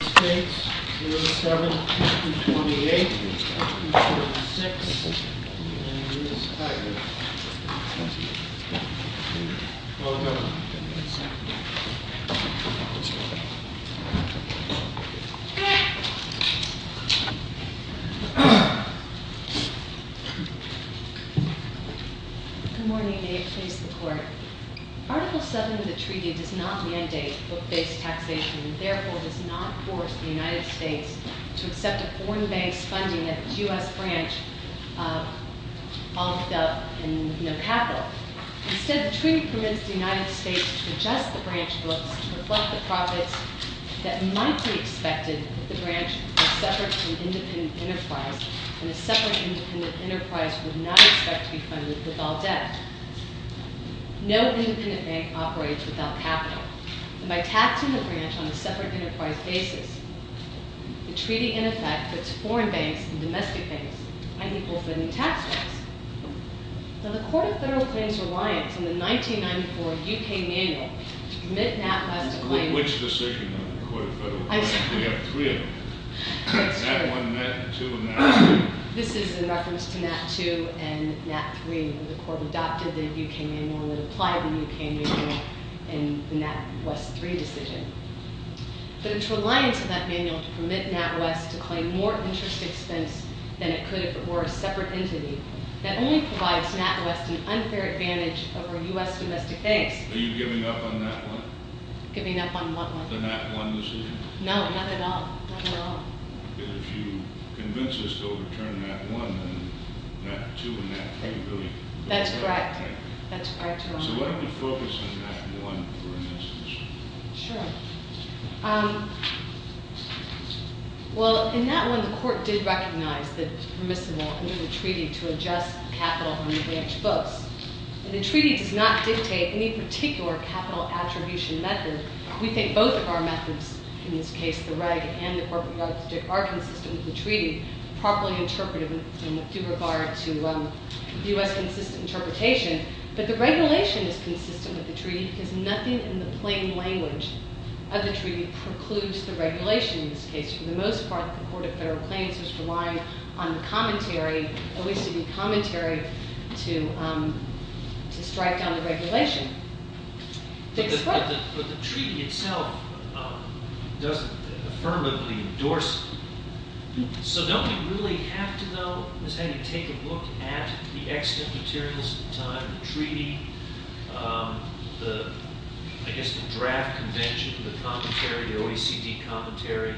07-28-26, and Ms. Tigard. Welcome. Good morning, may it please the court. Article 7 of the treaty does not mandate book-based taxation, and therefore does not force the United States to accept a foreign-based funding that the U.S. branch offered up in no capital. Instead, the treaty permits the United States to adjust the branch books to reflect the profits that might be expected if the branch were separate from independent enterprise, and a separate independent enterprise would not expect to be funded with all debt. No independent bank operates without capital, and by taxing the branch on a separate enterprise basis, the treaty in effect puts foreign banks and domestic banks on equal funding tax rates. Now, the Court of Federal Claims reliance on the 1994 U.K. manual to permit NatWest to claim... Which decision of the Court of Federal Claims? I'm sorry. We have three of them. Nat1, Nat2, and Nat3. This is in reference to Nat2 and Nat3, where the Court adopted the U.K. manual and applied the U.K. manual in the NatWest3 decision. But its reliance on that manual to permit NatWest to claim more interest expense than it could if it were a separate entity, that only provides NatWest an unfair advantage over U.S. domestic banks... Are you giving up on Nat1? Giving up on what one? The Nat1 decision. No, not at all, not at all. If you convince us to overturn Nat1, then Nat2 and Nat3 really... That's correct, that's correct. So why don't you focus on Nat1 for an instance? Sure. Well, in Nat1, the Court did recognize that it's permissible under the treaty to adjust capital from the branch books. The treaty does not dictate any particular capital attribution method. We think both of our methods, in this case, the reg and the corporate reg, are consistent with the treaty, properly interpreted in due regard to U.S. consistent interpretation. But the regulation is consistent with the treaty because nothing in the plain language of the treaty precludes the regulation in this case. For the most part, the Court of Federal Claims was reliant on the commentary, at least to be commentary, to strike down the regulation. But the treaty itself doesn't affirmably endorse it. So don't we really have to know is how you take a look at the extant materials of the time, the treaty, I guess the draft convention, the commentary, the OECD commentary,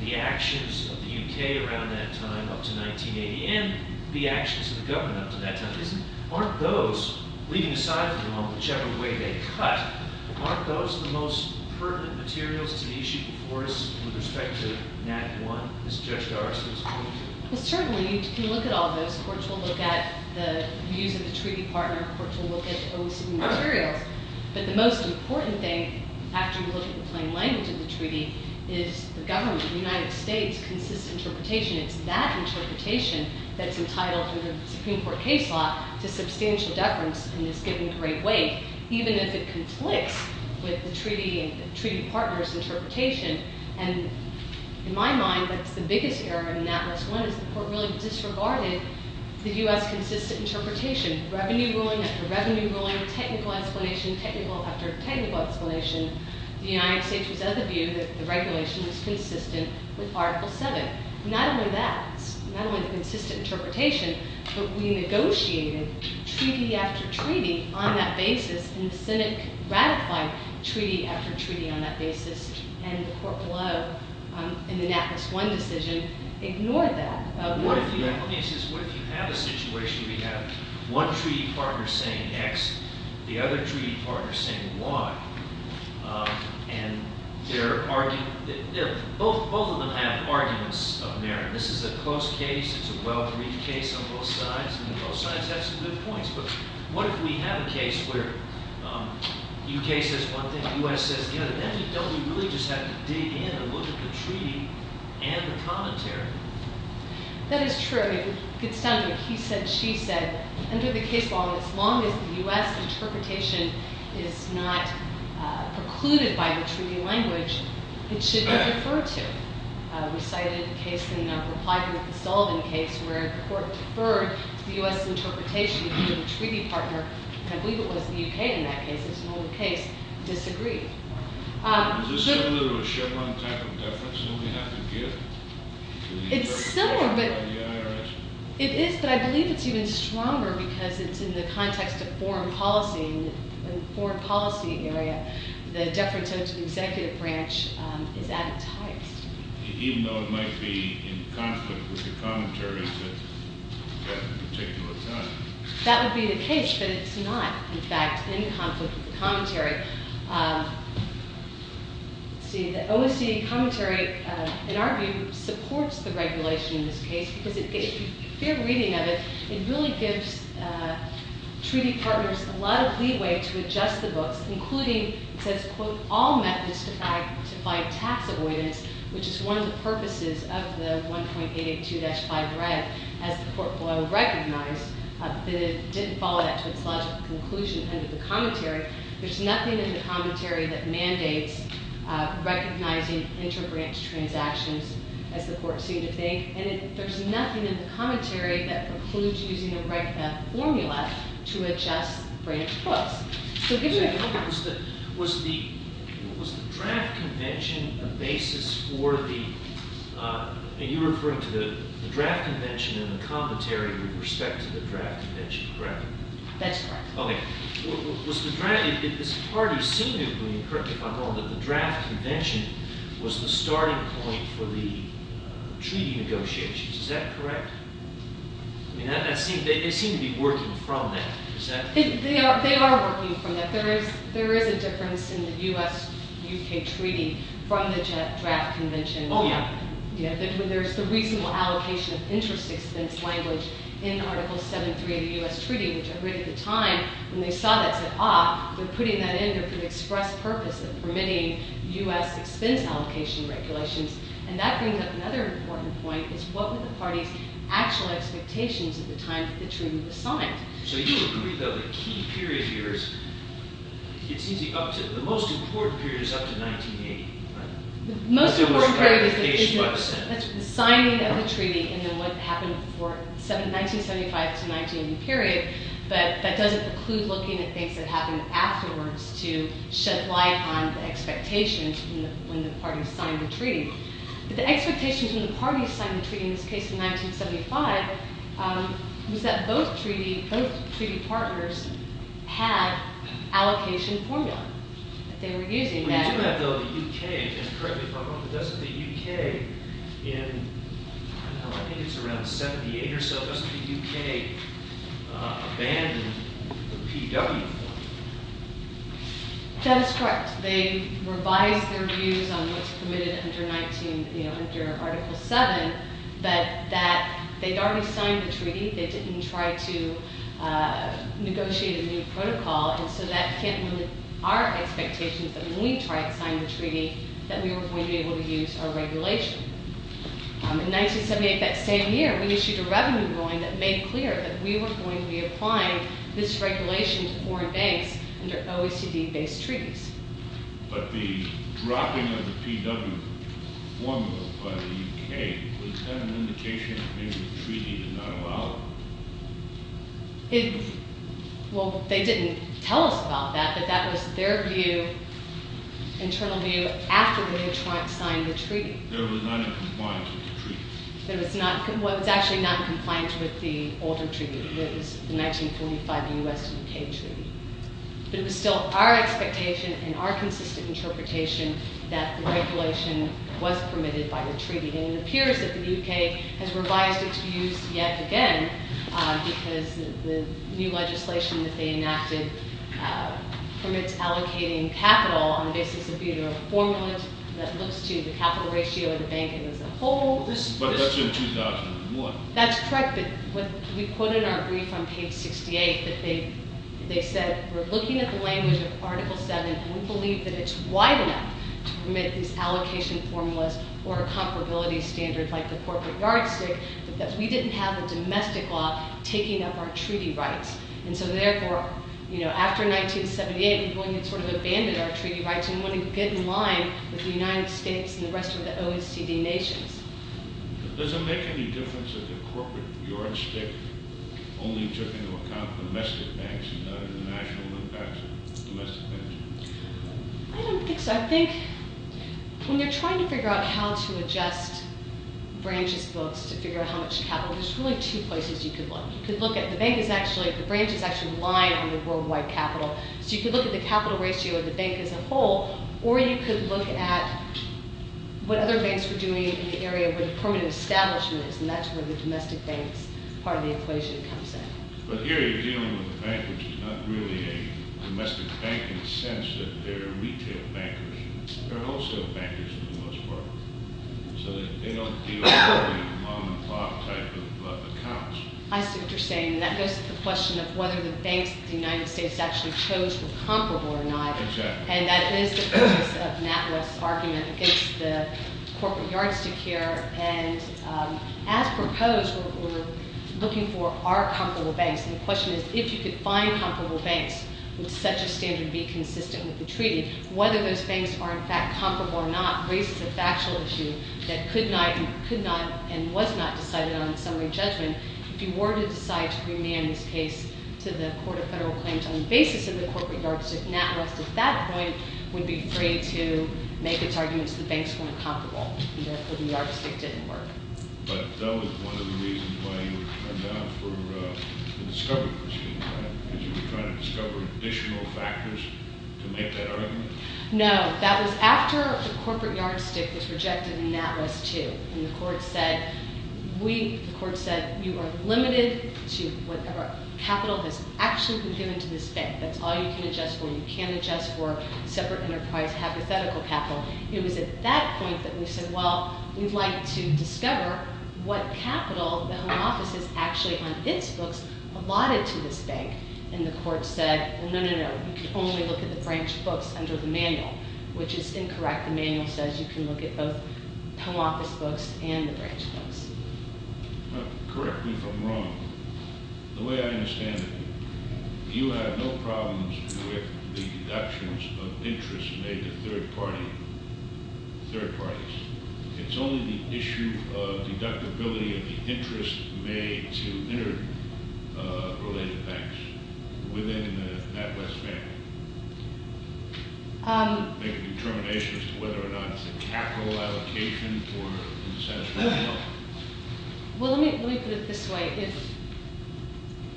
the actions of the U.K. around that time up to 1980, and the actions of the government up to that time? Aren't those, leaving aside for the moment, whichever way they cut, aren't those the most pertinent materials to the issue before us with respect to NAT 1, as Judge Garza was pointing to? Well, certainly, you can look at all those. Courts will look at the views of the treaty partner. Courts will look at the OECD materials. But the most important thing, after you look at the plain language of the treaty, is the government, the United States, consistent interpretation. It's that interpretation that's entitled in the Supreme Court case law to substantial deference and is given great weight, even if it conflicts with the treaty partner's interpretation. And in my mind, that's the biggest error in NAT 1 is the court really disregarded the U.S. consistent interpretation. Revenue ruling after revenue ruling, technical explanation after technical explanation. The United States was of the view that the regulation was consistent with Article VII. Not only that, but we negotiated treaty after treaty on that basis, and the Senate ratified treaty after treaty on that basis, and the court below, in the NAT 1 decision, ignored that. What if you have a situation where you have one treaty partner saying X, the other treaty partner saying Y, and they're arguing... Both of them have arguments of merit. This is a close case. It's a well-read case on both sides, and both sides have some good points, but what if we have a case where U.K. says one thing, U.S. says the other. Don't we really just have to dig in and look at the treaty and the commentary? That is true. It could sound like he said, she said. Under the case law, as long as the U.S. interpretation is not precluded by the treaty language, it should be referred to. We cited a case in reply to the Sullivan case where the court deferred to the U.S. interpretation of the treaty partner. I believe it was the U.K. in that case. It's an old case. Disagreed. Is this similar to a Chevron type of deference? Don't we have to give to the IRS? It is, but I believe it's even stronger because it's in the context of foreign policy. In the foreign policy area, the deference to the executive branch is advertised. Even though it might be in conflict with the commentary at a particular time. That would be the case, but it's not in fact in conflict with the commentary. The OSCE commentary in our view supports the regulation in this case because if you fear reading of it, it really gives treaty partners a lot of leeway to adjust the books, including it says, quote, all methods to fight tax avoidance, which is one of the purposes of the 1.882-5 red as the court recognized. It didn't follow that to its logical conclusion under the commentary. There's nothing in the commentary that mandates recognizing inter-branch transactions as the court seemed to think. There's nothing in the commentary that precludes using a regular formula to adjust branch books. Was the draft convention a basis for the and you're referring to the draft convention and the commentary with respect to the draft convention, correct? That's correct. Was the draft, it seemed to me, if I'm wrong, that the draft convention was the starting point for the treaty negotiations. Is that correct? They seem to be working from that. They are working from that. There is a difference in the U.S.-U.K. treaty from the draft convention. There's the reasonable allocation of interest expense language in Article 7.3 of the U.S. treaty, which I read at the time when they saw that said, ah, they're putting that in there for the express purpose of permitting U.S. expense allocation regulations, and that brings up another important point, is what were the party's actual expectations at the time the treaty was signed? So you agree that the key period here is it seems the most important period is up to 1980, right? The most important period is the signing of the treaty and then what happened in 1975 to 1980 period, but that doesn't include looking at things that happened afterwards to shed light on the expectations when the party signed the treaty. But the expectations when the party signed the treaty, in this case in 1975, was that both treaty partners had allocation formula that they were using. That is correct. They revised their views on what's committed under Article 7, but that they'd already signed the treaty, they didn't try to negotiate a new protocol, and so that hit our expectations that when we tried to sign the treaty, that we were going to be able to use our regulation. In 1978, that same year, we issued a revenue ruling that made clear that we were going to be applying this regulation to foreign banks under OECD-based treaties. But the dropping of the PW formula by the UK was that an indication that maybe the treaty did not allow it? Well, they didn't tell us about that, but that was their view, internal view, after they had tried to sign the treaty. It was not in compliance with the treaty. It was actually not in compliance with the older treaty. It was 1945 U.S. and UK treaty. But it was still our expectation and our consistent interpretation that the regulation was permitted by the treaty. And it appears that the UK has revised it to use yet again, because the new legislation that they enacted permits allocating capital on the basis of a formula that looks to the capital ratio of the bank as a whole. But that's in 2001. That's correct, but we quoted our brief on page 68, that they said we're looking at the language of article 7 and we believe that it's wide enough to permit these allocation formulas or a comparability standard like the corporate yardstick, but that we didn't have a domestic law taking up our treaty rights. And so therefore, you know, after 1978 we sort of abandoned our treaty rights and wanted to get in line with the United States and the rest of the OECD nations. Does it make any difference if the corporate yardstick only took into account domestic banks and not the national impact of domestic banks? I don't think so. I think when you're trying to figure out how to adjust branches books to figure out how much capital, there's really two places you could look. You could look at the bank is actually, the branch is actually lying on the worldwide capital. So you could look at the capital ratio of the bank as a whole or you could look at what other banks were doing in the area where the permanent establishment is and that's where the domestic banks part of the equation comes in. But here you're dealing with a bank which is not really a domestic bank in the sense that they're retail bankers. They're also bankers for the most part. So they don't deal with the mom and pop type of accounts. I see what you're saying. And that goes to the question of whether the banks that the United States actually chose were comparable or not. And that is the focus of Matt Wells' argument against the corporate yardstick here. And as proposed, we're looking for are comparable banks and the question is if you could find comparable banks, would such a standard be consistent with the treaty? Whether those banks are in fact comparable or not raises a factual issue that could not and was not decided on in summary judgment. If you were to decide to remand this case to the Court of Federal Claims on the basis of the corporate yardstick, Nat West at that point would be free to make its arguments the banks weren't comparable and therefore the yardstick didn't work. But that was one of the reasons why you turned down for the discovery proceeding, right? Because you were trying to discover additional factors to make that argument? No. That was after the corporate yardstick was rejected and Nat West too. And the Court said you are limited to whatever capital has actually been given to this bank. That's all you can adjust for. You can't adjust for separate enterprise hypothetical capital. It was at that point that we said, well, we'd like to discover what capital the Home Office has actually on its books allotted to this bank. And the Court said, no, no, no. You can only look at the branch books under the manual which is incorrect. The manual says you can look at both Home Office books and the branch books. Correct me if I'm wrong. The way I understand it you have no problems with the deductions of interest made to third parties. It's only the issue of deductibility of the interest made to interrelated banks within the Nat West family. Make a determination as to whether or not it's a capital allocation or an unsatisfactory outcome. Well, let me put it this way.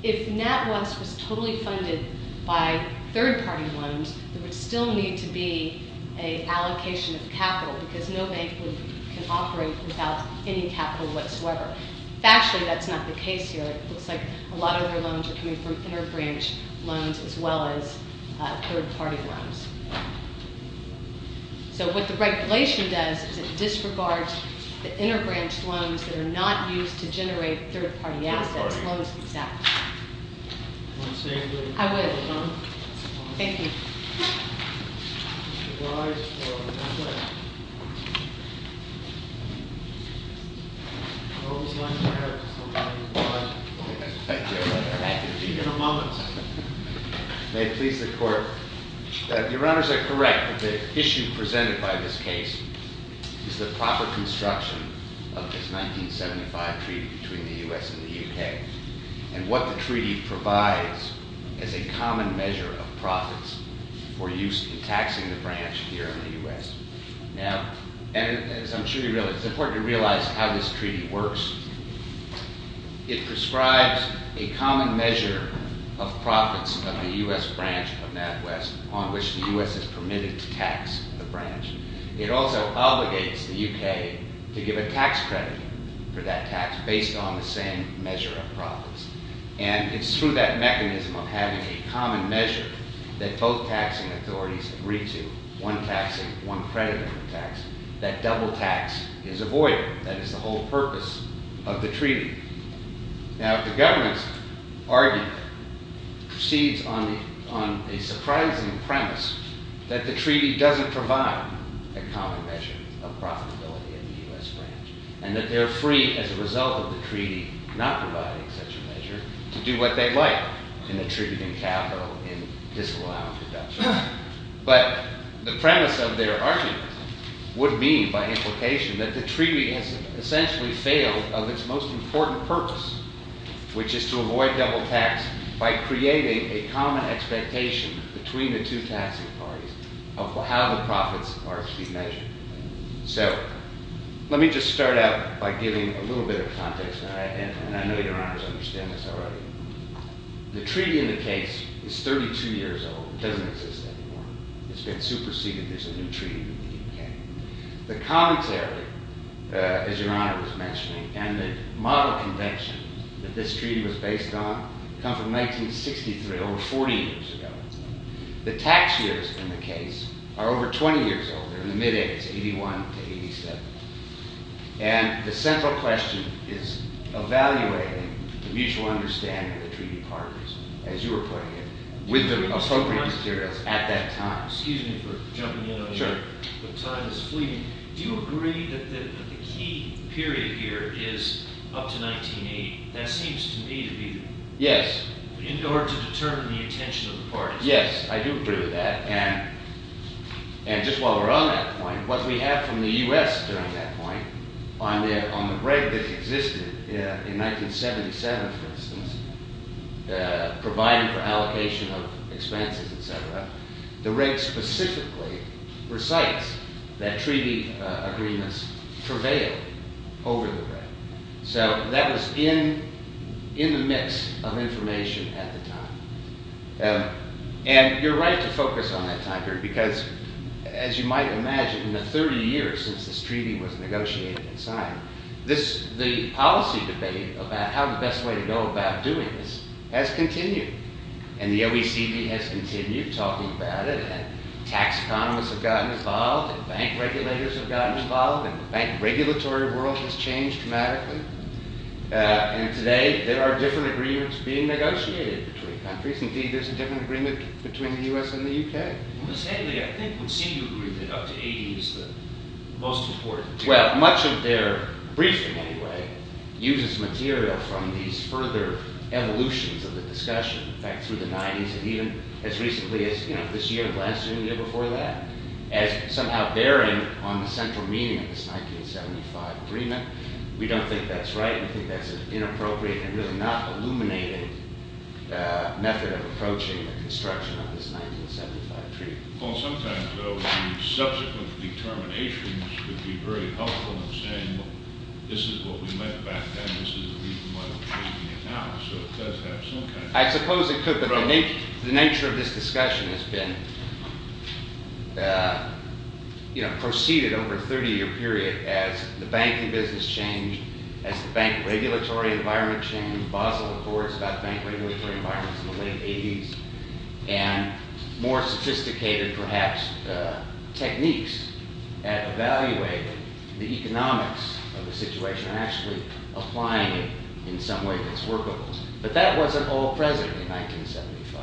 If Nat West was totally funded by third party loans, there would still need to be an allocation of capital because no bank can operate without any capital whatsoever. Factually, that's not the case here. It looks like a lot of their loans are coming from interbranch loans as well as third party loans. So what the regulation does is it disregards the interbranch loans that are not used to generate third party assets. I would. Thank you. Any other questions? May it please the court. Your honors are correct that the issue presented by this case is the proper construction of this 1975 treaty between the U.S. and the U.K. and what the treaty provides is a common measure of profits for use in taxing the branch here in the U.S. As I'm sure you realize, it's important to realize how this treaty works. It prescribes a common measure of profits of the U.S. branch of Nat West on which the U.S. is permitted to tax the branch. It also obligates the U.K. to give a tax credit for that tax based on the same measure of profits. It's through that mechanism of having a double taxing authorities agree to one taxing, one credit of the tax that double tax is avoided. That is the whole purpose of the treaty. Now the government's argument proceeds on a surprising premise that the treaty doesn't provide a common measure of profitability in the U.S. branch and that they're free as a result of the treaty not providing such a measure to do what they like in the treaty including capital in disallowed production. But the premise of their argument would be by implication that the treaty has essentially failed of its most important purpose which is to avoid double tax by creating a common expectation between the two taxing parties of how the profits are to be measured. So let me just start out by giving a little bit of context and I know your honors understand this already. The treaty in the case is 32 years old. It doesn't exist anymore. It's been superseded. There's a new treaty in the U.K. The commentary as your honor was mentioning and the model convention that this treaty was based on come from 1963, over 40 years ago. The tax years in the case are over 20 years old. They're in the mid-80s, 81 to 87. And the central question is evaluating the mutual understanding of the treaty partners as you were putting it, with the appropriate materials at that time. Excuse me for jumping in. Do you agree that the key period here is up to 1980? That seems to me to be in order to determine the intention of the parties. Yes, I do agree with that. And just while we're on that point, what we have from the U.S. during that point, on the reg that existed in 1977, for instance, providing for allocation of expenses, etc., the reg specifically recites that treaty agreements prevailed over the reg. So that was in the mix of information at the time. And you're right to focus on that time period because as you might imagine, in the 30 years since this treaty was negotiated and signed, the policy debate about how the best way to go about doing this has continued. And the OECD has continued talking about it, and tax economists have gotten involved, and bank regulators have gotten involved, and the bank regulatory world has changed dramatically. And today, there are different agreements being negotiated between countries. Indeed, there's a different agreement between the U.S. and the U.K. And Ms. Haley, I think, would seem to agree that up to 18 is the most important. Well, much of their briefing, anyway, uses material from these further evolutions of the discussion, in fact, through the 90s and even as recently as this year and last year and the year before that, as somehow bearing on the central meaning of this 1975 agreement. We don't think that's right. We think that's an inappropriate and really not illuminating method of approaching the construction of this 1975 treaty. Well, sometimes, though, subsequent determinations would be very helpful in saying, well, this is what we meant back then, this is the reason why we're taking it now. So it does have some kind of... I suppose it could, but the nature of this discussion has been, you know, proceeded over a 30-year period as the banking business changed, as the bank regulatory environment changed, Basel reports about bank and more sophisticated perhaps techniques at evaluating the economics of the situation and actually applying it in some way that's workable. But that wasn't all present in 1975.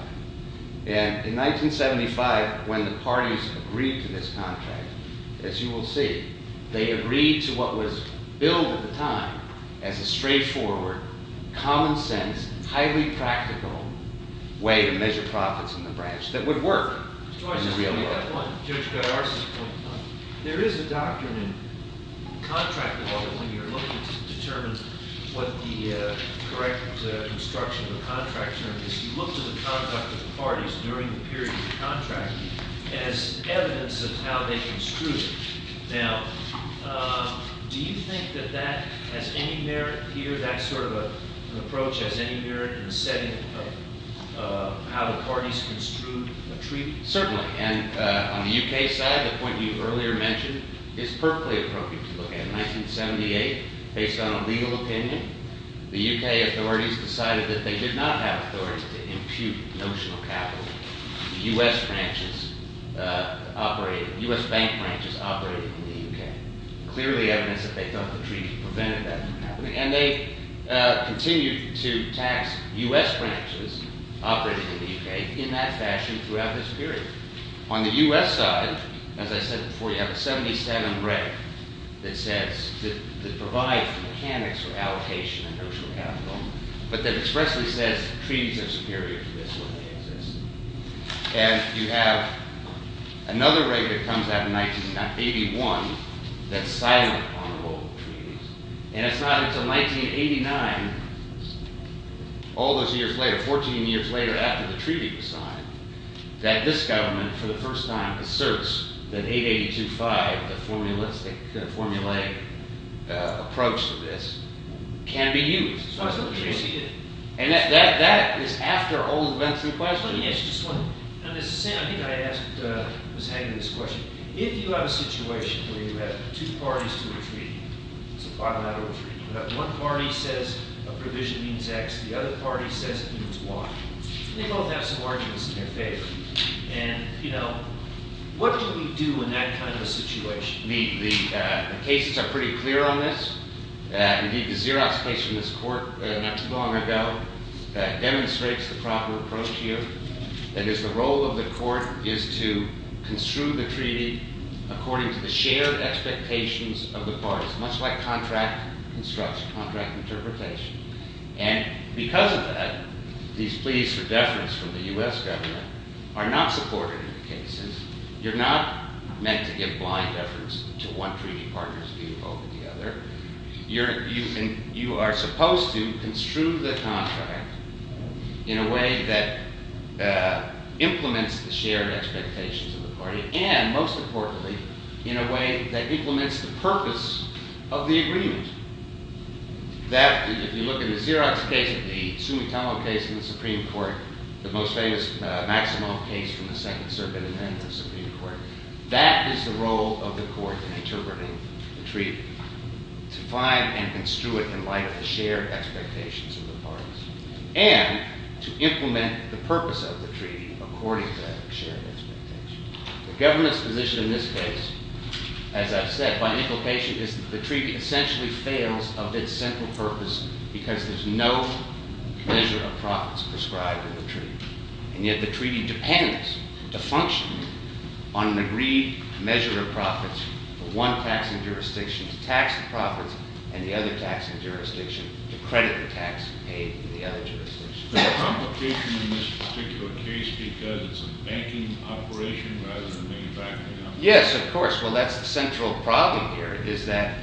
And in 1975, when the parties agreed to this contract, as you will see, they agreed to what was billed at the time as a straightforward, common sense, highly practical way to measure profits in the branch that would work in the real world. There is a document in contract law that when you're looking to determine what the correct construction of the contract term is, you look to the conduct of the parties during the period of the contract as evidence of how they construed it. Now, do you think that that has any merit here, that sort of an is any merit in the setting of how the parties construed a treaty? Certainly, and on the UK side, the point you earlier mentioned is perfectly appropriate to look at. In 1978, based on a legal opinion, the UK authorities decided that they did not have authority to impute notional capital. The US branches operated, US bank branches operated in the UK. Clearly evidence that they felt the treaty prevented that from happening. And they continued to tax US branches operating in the UK in that fashion throughout this period. On the US side, as I said before, you have a 77 reg that says that provides the mechanics for allocation of notional capital but that expressly says treaties are superior to this when they exist. And you have another reg that comes out in 1981 that's silent on the role of treaties. And it's not until 1989 all those years later, 14 years later after the treaty was signed that this government, for the first time, asserts that 882.5 the formulistic, the formulaic approach to this can be used. And that is after all the events in the past. I think I was having this question. If you have a situation where you have two parties to a treaty, it's a bilateral treaty, but one party says a provision means X, the other party says it means Y. They both have some arguments in their favor. And, you know, what do we do in that kind of a situation? The cases are pretty clear on this. Indeed, the Xerox case from this court not too long ago demonstrates the proper approach here. That is, the role of the court is to construe the treaty according to the shared expectations of the parties, much like contract construction, contract interpretation. And because of that, these pleas for deference from the U.S. government are not supported in the cases. You're not meant to give blind deference to one treaty partner's view over the other. You are supposed to construe the contract in a way that implements the shared expectations of the party, and, most importantly, in a way that implements the purpose of the agreement. If you look at the Xerox case, the Sumitomo case in the Supreme Court, the most famous Maximo case from the Second Circuit, and then the Supreme Court, that is the role of the court in interpreting the treaty, to find and construe it in light of the shared expectations of the parties, and to implement the purpose of that shared expectation. The government's position in this case, as I've said, by implication, is that the treaty essentially fails of its central purpose because there's no measure of profits prescribed in the treaty. And yet the treaty depends to function on an agreed measure of profits for one taxing jurisdiction to tax the profits and the other taxing jurisdiction to credit the tax paid in the other jurisdictions. Is there a complication in this particular case because it's a banking operation rather than manufacturing operation? Yes, of course. Well, that's the central problem here, is that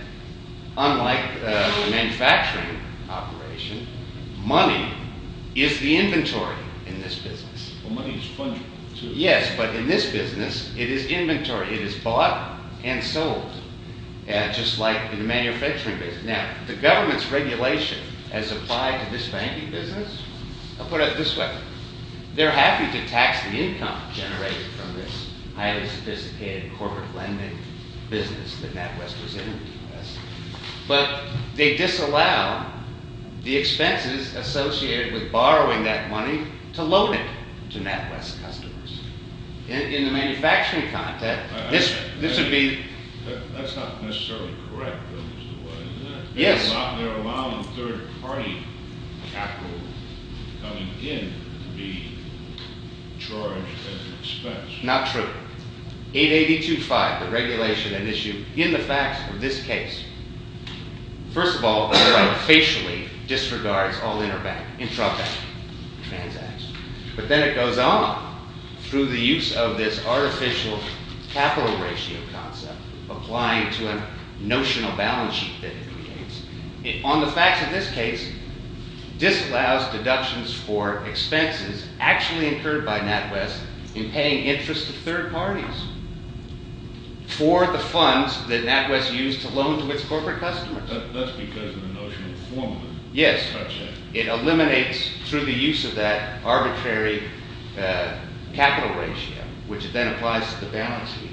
unlike the manufacturing operation, money is the inventory in this business. Well, money is fungible, too. Yes, but in this business it is inventory. It is bought and sold. Just like in the manufacturing business. Now, the government's regulation has applied to this banking business. I'll put it this way. They're happy to tax the income generated from this highly sophisticated corporate lending business that NatWest was in, but they disallow the expenses associated with borrowing that money to loan it to NatWest customers. In the manufacturing context, this would be... That's not necessarily correct, is it? Yes. They're allowing third-party capital coming in to be charged as an expense. Not true. 882.5, the regulation and issue in the facts of this case. First of all, the right facially disregards all interbank, intrabank transactions, but then it goes on through the use of this artificial capital ratio concept, applying to a notional balance sheet that it creates. On the facts of this case, disallows deductions for expenses actually incurred by NatWest in paying interest to third parties for the funds that NatWest used to loan to its corporate customers. That's because of the notional formula. Yes. It eliminates through the use of that arbitrary capital ratio, which then applies to the balance sheet.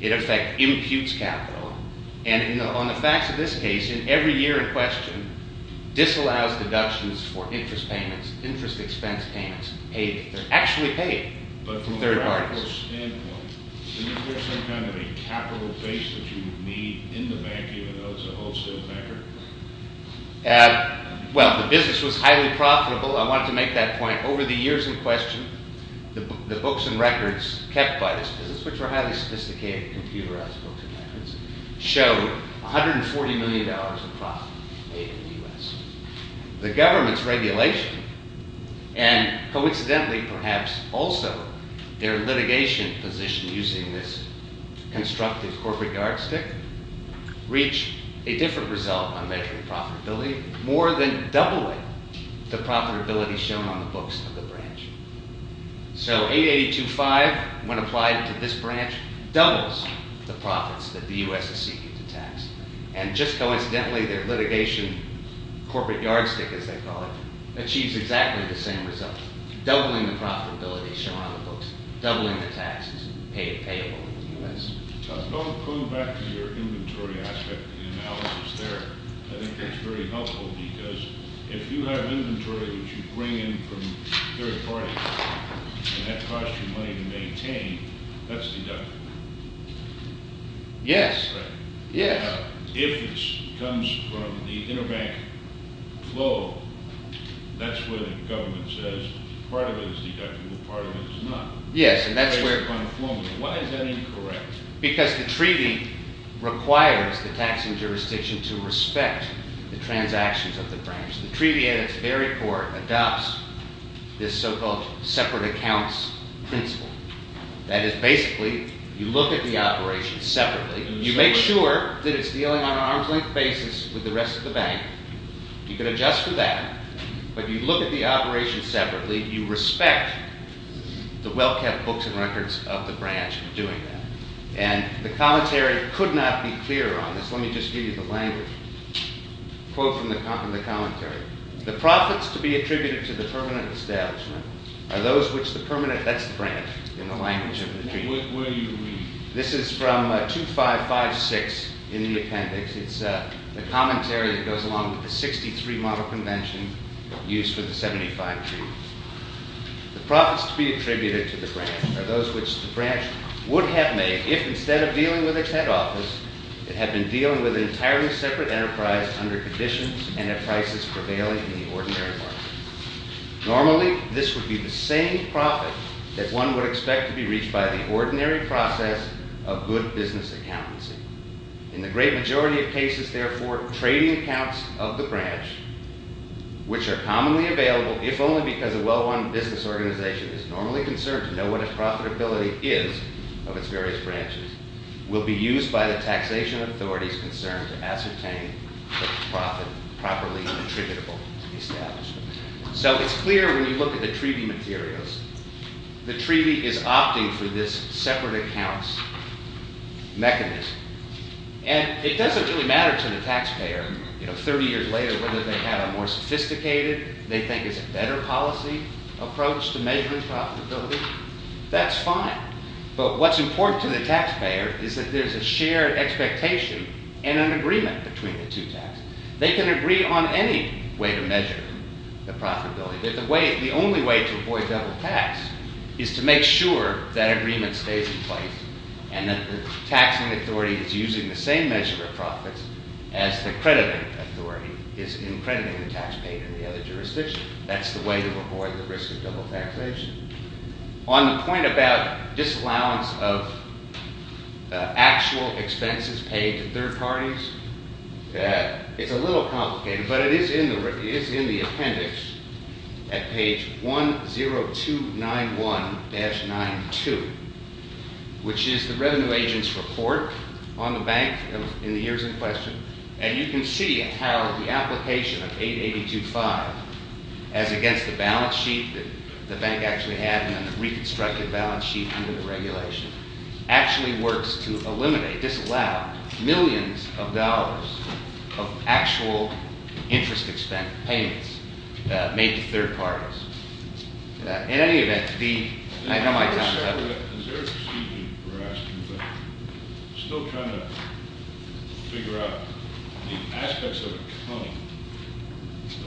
It, in fact, imputes capital. And on the facts of this case, in every year in question, disallows deductions for interest payments, interest expense payments, paid. They're actually paid from third parties. Isn't there some kind of a capital base that you would need in the bank even though it's a wholesale banker? Well, the business was highly profitable. I wanted to make that point. Over the years in question, the books and records kept by this business, which were highly sophisticated computerized books and records, showed $140 million in profit made in the U.S. The government's regulation and, coincidentally, perhaps also their litigation position using this constructive corporate yardstick, reach a different result on measuring profitability more than doubling the profitability shown on the books of the branch. So, $882,500 when applied to this branch doubles the profits that the U.S. is seeking to tax. And, just coincidentally, their litigation corporate yardstick, as they call it, achieves exactly the same result. Doubling the profitability shown on the books, doubling the taxes paid payable in the U.S. Don't go back to your inventory aspect of the analysis there. I think that's very helpful because if you have inventory which you can't afford and that costs you money to maintain, that's deductible. Yes. If it comes from the interbank flow, that's where the government says part of it is deductible, part of it is not. Why is that incorrect? Because the treaty requires the taxing jurisdiction to respect the transactions of the branch. The treaty, at its very core, adopts this so-called separate accounts principle. That is, basically, you look at the operations separately, you make sure that it's dealing on an arm's-length basis with the rest of the bank, you can adjust for that, but you look at the operations separately, you respect the well-kept books and records of the branch for doing that. And the commentary could not be clearer on this. Let me just give you the language. A quote from the commentary. The profits to be attributed to the permanent establishment are those which the permanent, that's the branch, in the language of the treaty. This is from 2556 in the appendix. It's the commentary that goes along with the 63 model convention used for the 75 treaty. The profits to be attributed to the branch are those which the branch would have made if, instead of dealing with its head office, it had been dealing with an entirely separate enterprise under conditions and at prices prevailing in the ordinary market. Normally, this would be the same profit that one would expect to be reached by the ordinary process of good business accountancy. In the great majority of cases, therefore, trading accounts of the branch, which are commonly available, if only because a well-run business organization is normally concerned to know what its profitability is of its various branches, will be used by the taxation authorities as a concern to ascertain the profit properly attributable to the establishment. It's clear when you look at the treaty materials the treaty is opting for this separate accounts mechanism. It doesn't really matter to the taxpayer, 30 years later, whether they have a more sophisticated, they think it's a better policy approach to measure profitability. That's fine. What's important to the taxpayer is that there's a shared expectation and an agreement between the two taxes. They can agree on any way to measure the profitability. The only way to avoid double tax is to make sure that agreement stays in place and that the taxing authority is using the same measure of profits as the crediting authority is in crediting the tax paid in the other jurisdiction. That's the way to avoid the risk of double taxation. On the point about disallowance of actual expenses paid to third parties, it's a little complicated, but it is in the appendix at page 10291-92 which is the revenue agent's report on the bank in the years in question. You can see how the application of 8825 as against the balance sheet the bank actually had and reconstructed balance sheet under the regulation, actually works to eliminate, disallow millions of dollars of actual interest expense payments made to third parties. In any event, I know my time is up. I'm still trying to figure out the aspects of accounting.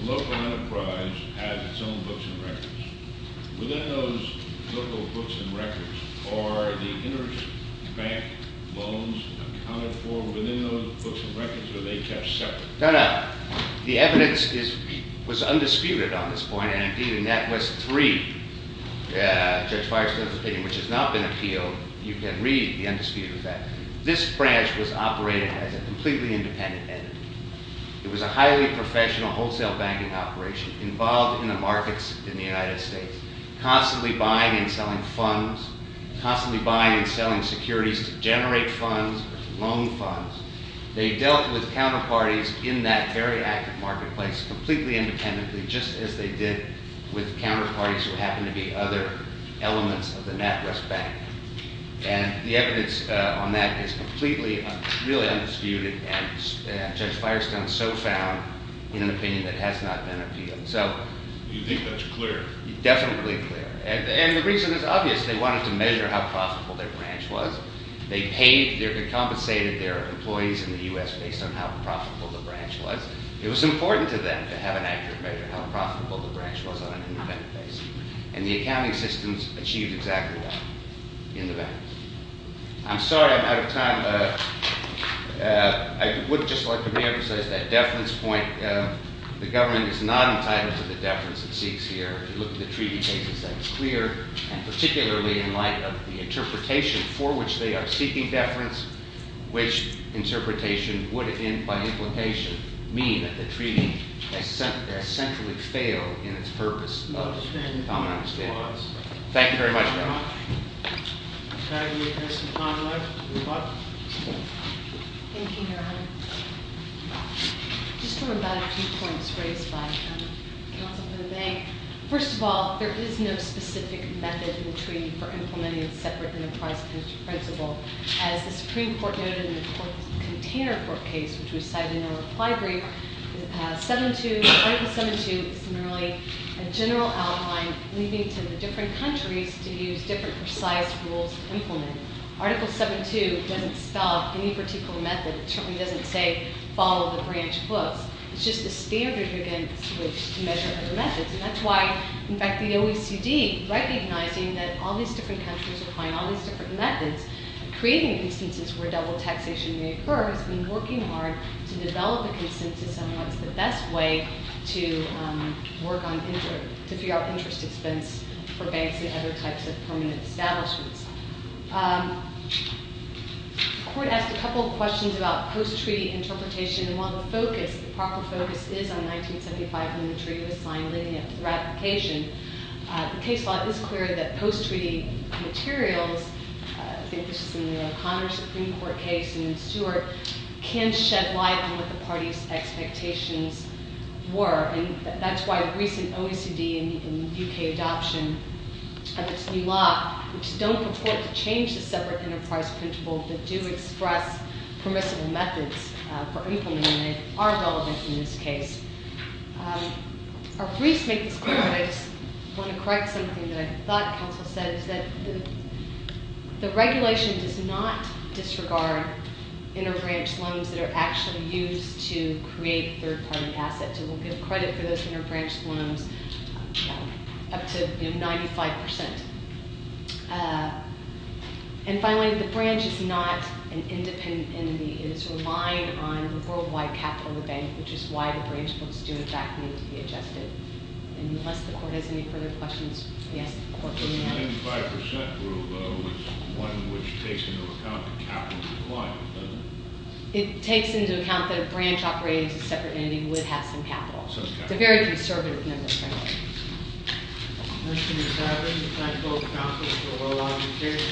The local enterprise has its own books and records. Within those local books and records, are the interest bank loans accounted for within those books and records, or are they kept separate? No, no. The evidence was undisputed on this point, and that was three. Judge Firestone's opinion, which has not been appealed, you can read the undisputed fact. This branch was operating as a completely independent entity. It was a highly professional wholesale banking operation involved in the markets in the United States, constantly buying and selling funds, constantly buying and selling securities to generate funds, loan funds. They dealt with counterparties in that very active marketplace completely independently, just as they did with counterparties who happened to be other elements of the NatWest Bank. The evidence on that is completely, really undisputed, and Judge Firestone so found in an opinion that has not been appealed. You think that's clear? Definitely clear, and the reason is obvious. They wanted to measure how profitable their branch was. They compensated their employees in the U.S. based on how profitable the branch was. It was important to them to have an accurate measure of how profitable the branch was on an independent basis, and in the bank. I'm sorry I'm out of time. I would like to say that the government is not entitled to the deference it seeks here. If you look at the treaty cases, that is clear, and particularly in light of the interpretation for which they are seeking deference, which interpretation would, by implication, mean that the treaty has centrally failed in its purpose of common understanding. Thank you very much. Thank you, Your Honor. I just want to provide a few points raised by counsel for the bank. First of all, there is no specific method in the treaty for implementing it separate from the price principle. As the Supreme Court noted in the container court case, which was cited in the reply brief, Article 7-2 is merely a general outline leading to the different countries to use different precise rules to implement it. Article 7-2 doesn't spell out any particular method. It certainly doesn't say, follow the branch books. It's just a standard against which to measure other methods, and that's why in fact the OECD, recognizing that all these different countries are applying all these different methods, creating instances where double taxation may occur has been working hard to develop a consensus on what's the best way to work on interest expense for banks and other types of permanent establishments. The court asked a couple of questions about post-treaty interpretation, and while the proper focus is on 1975 when the treaty was signed leading up to the ratification, the case law is clear that post-treaty materials, I think this is in the O'Connor Supreme Court case and in Stewart, can shed light on what the party's expectations were, and that's why a recent OECD in the UK adoption of its new law, which does not purport to change the separate enterprise principle, but do express permissible methods for implementing it, are relevant in this case. Our briefs make this clear, but I just want to correct something that I thought counsel said, is that the regulation does not disregard inter-branch loans that are actually used to create third-party assets. It will give credit for those inter-branch loans up to 95%. And finally, the branch is not an independent entity. It is relying on the worldwide capital of the bank, which is why the branch books do in fact need to be adjusted. And unless the court has any further questions, yes, the court may ask. It takes into account that a branch operating as a separate entity would have some capital. It's a very conservative number, thank you.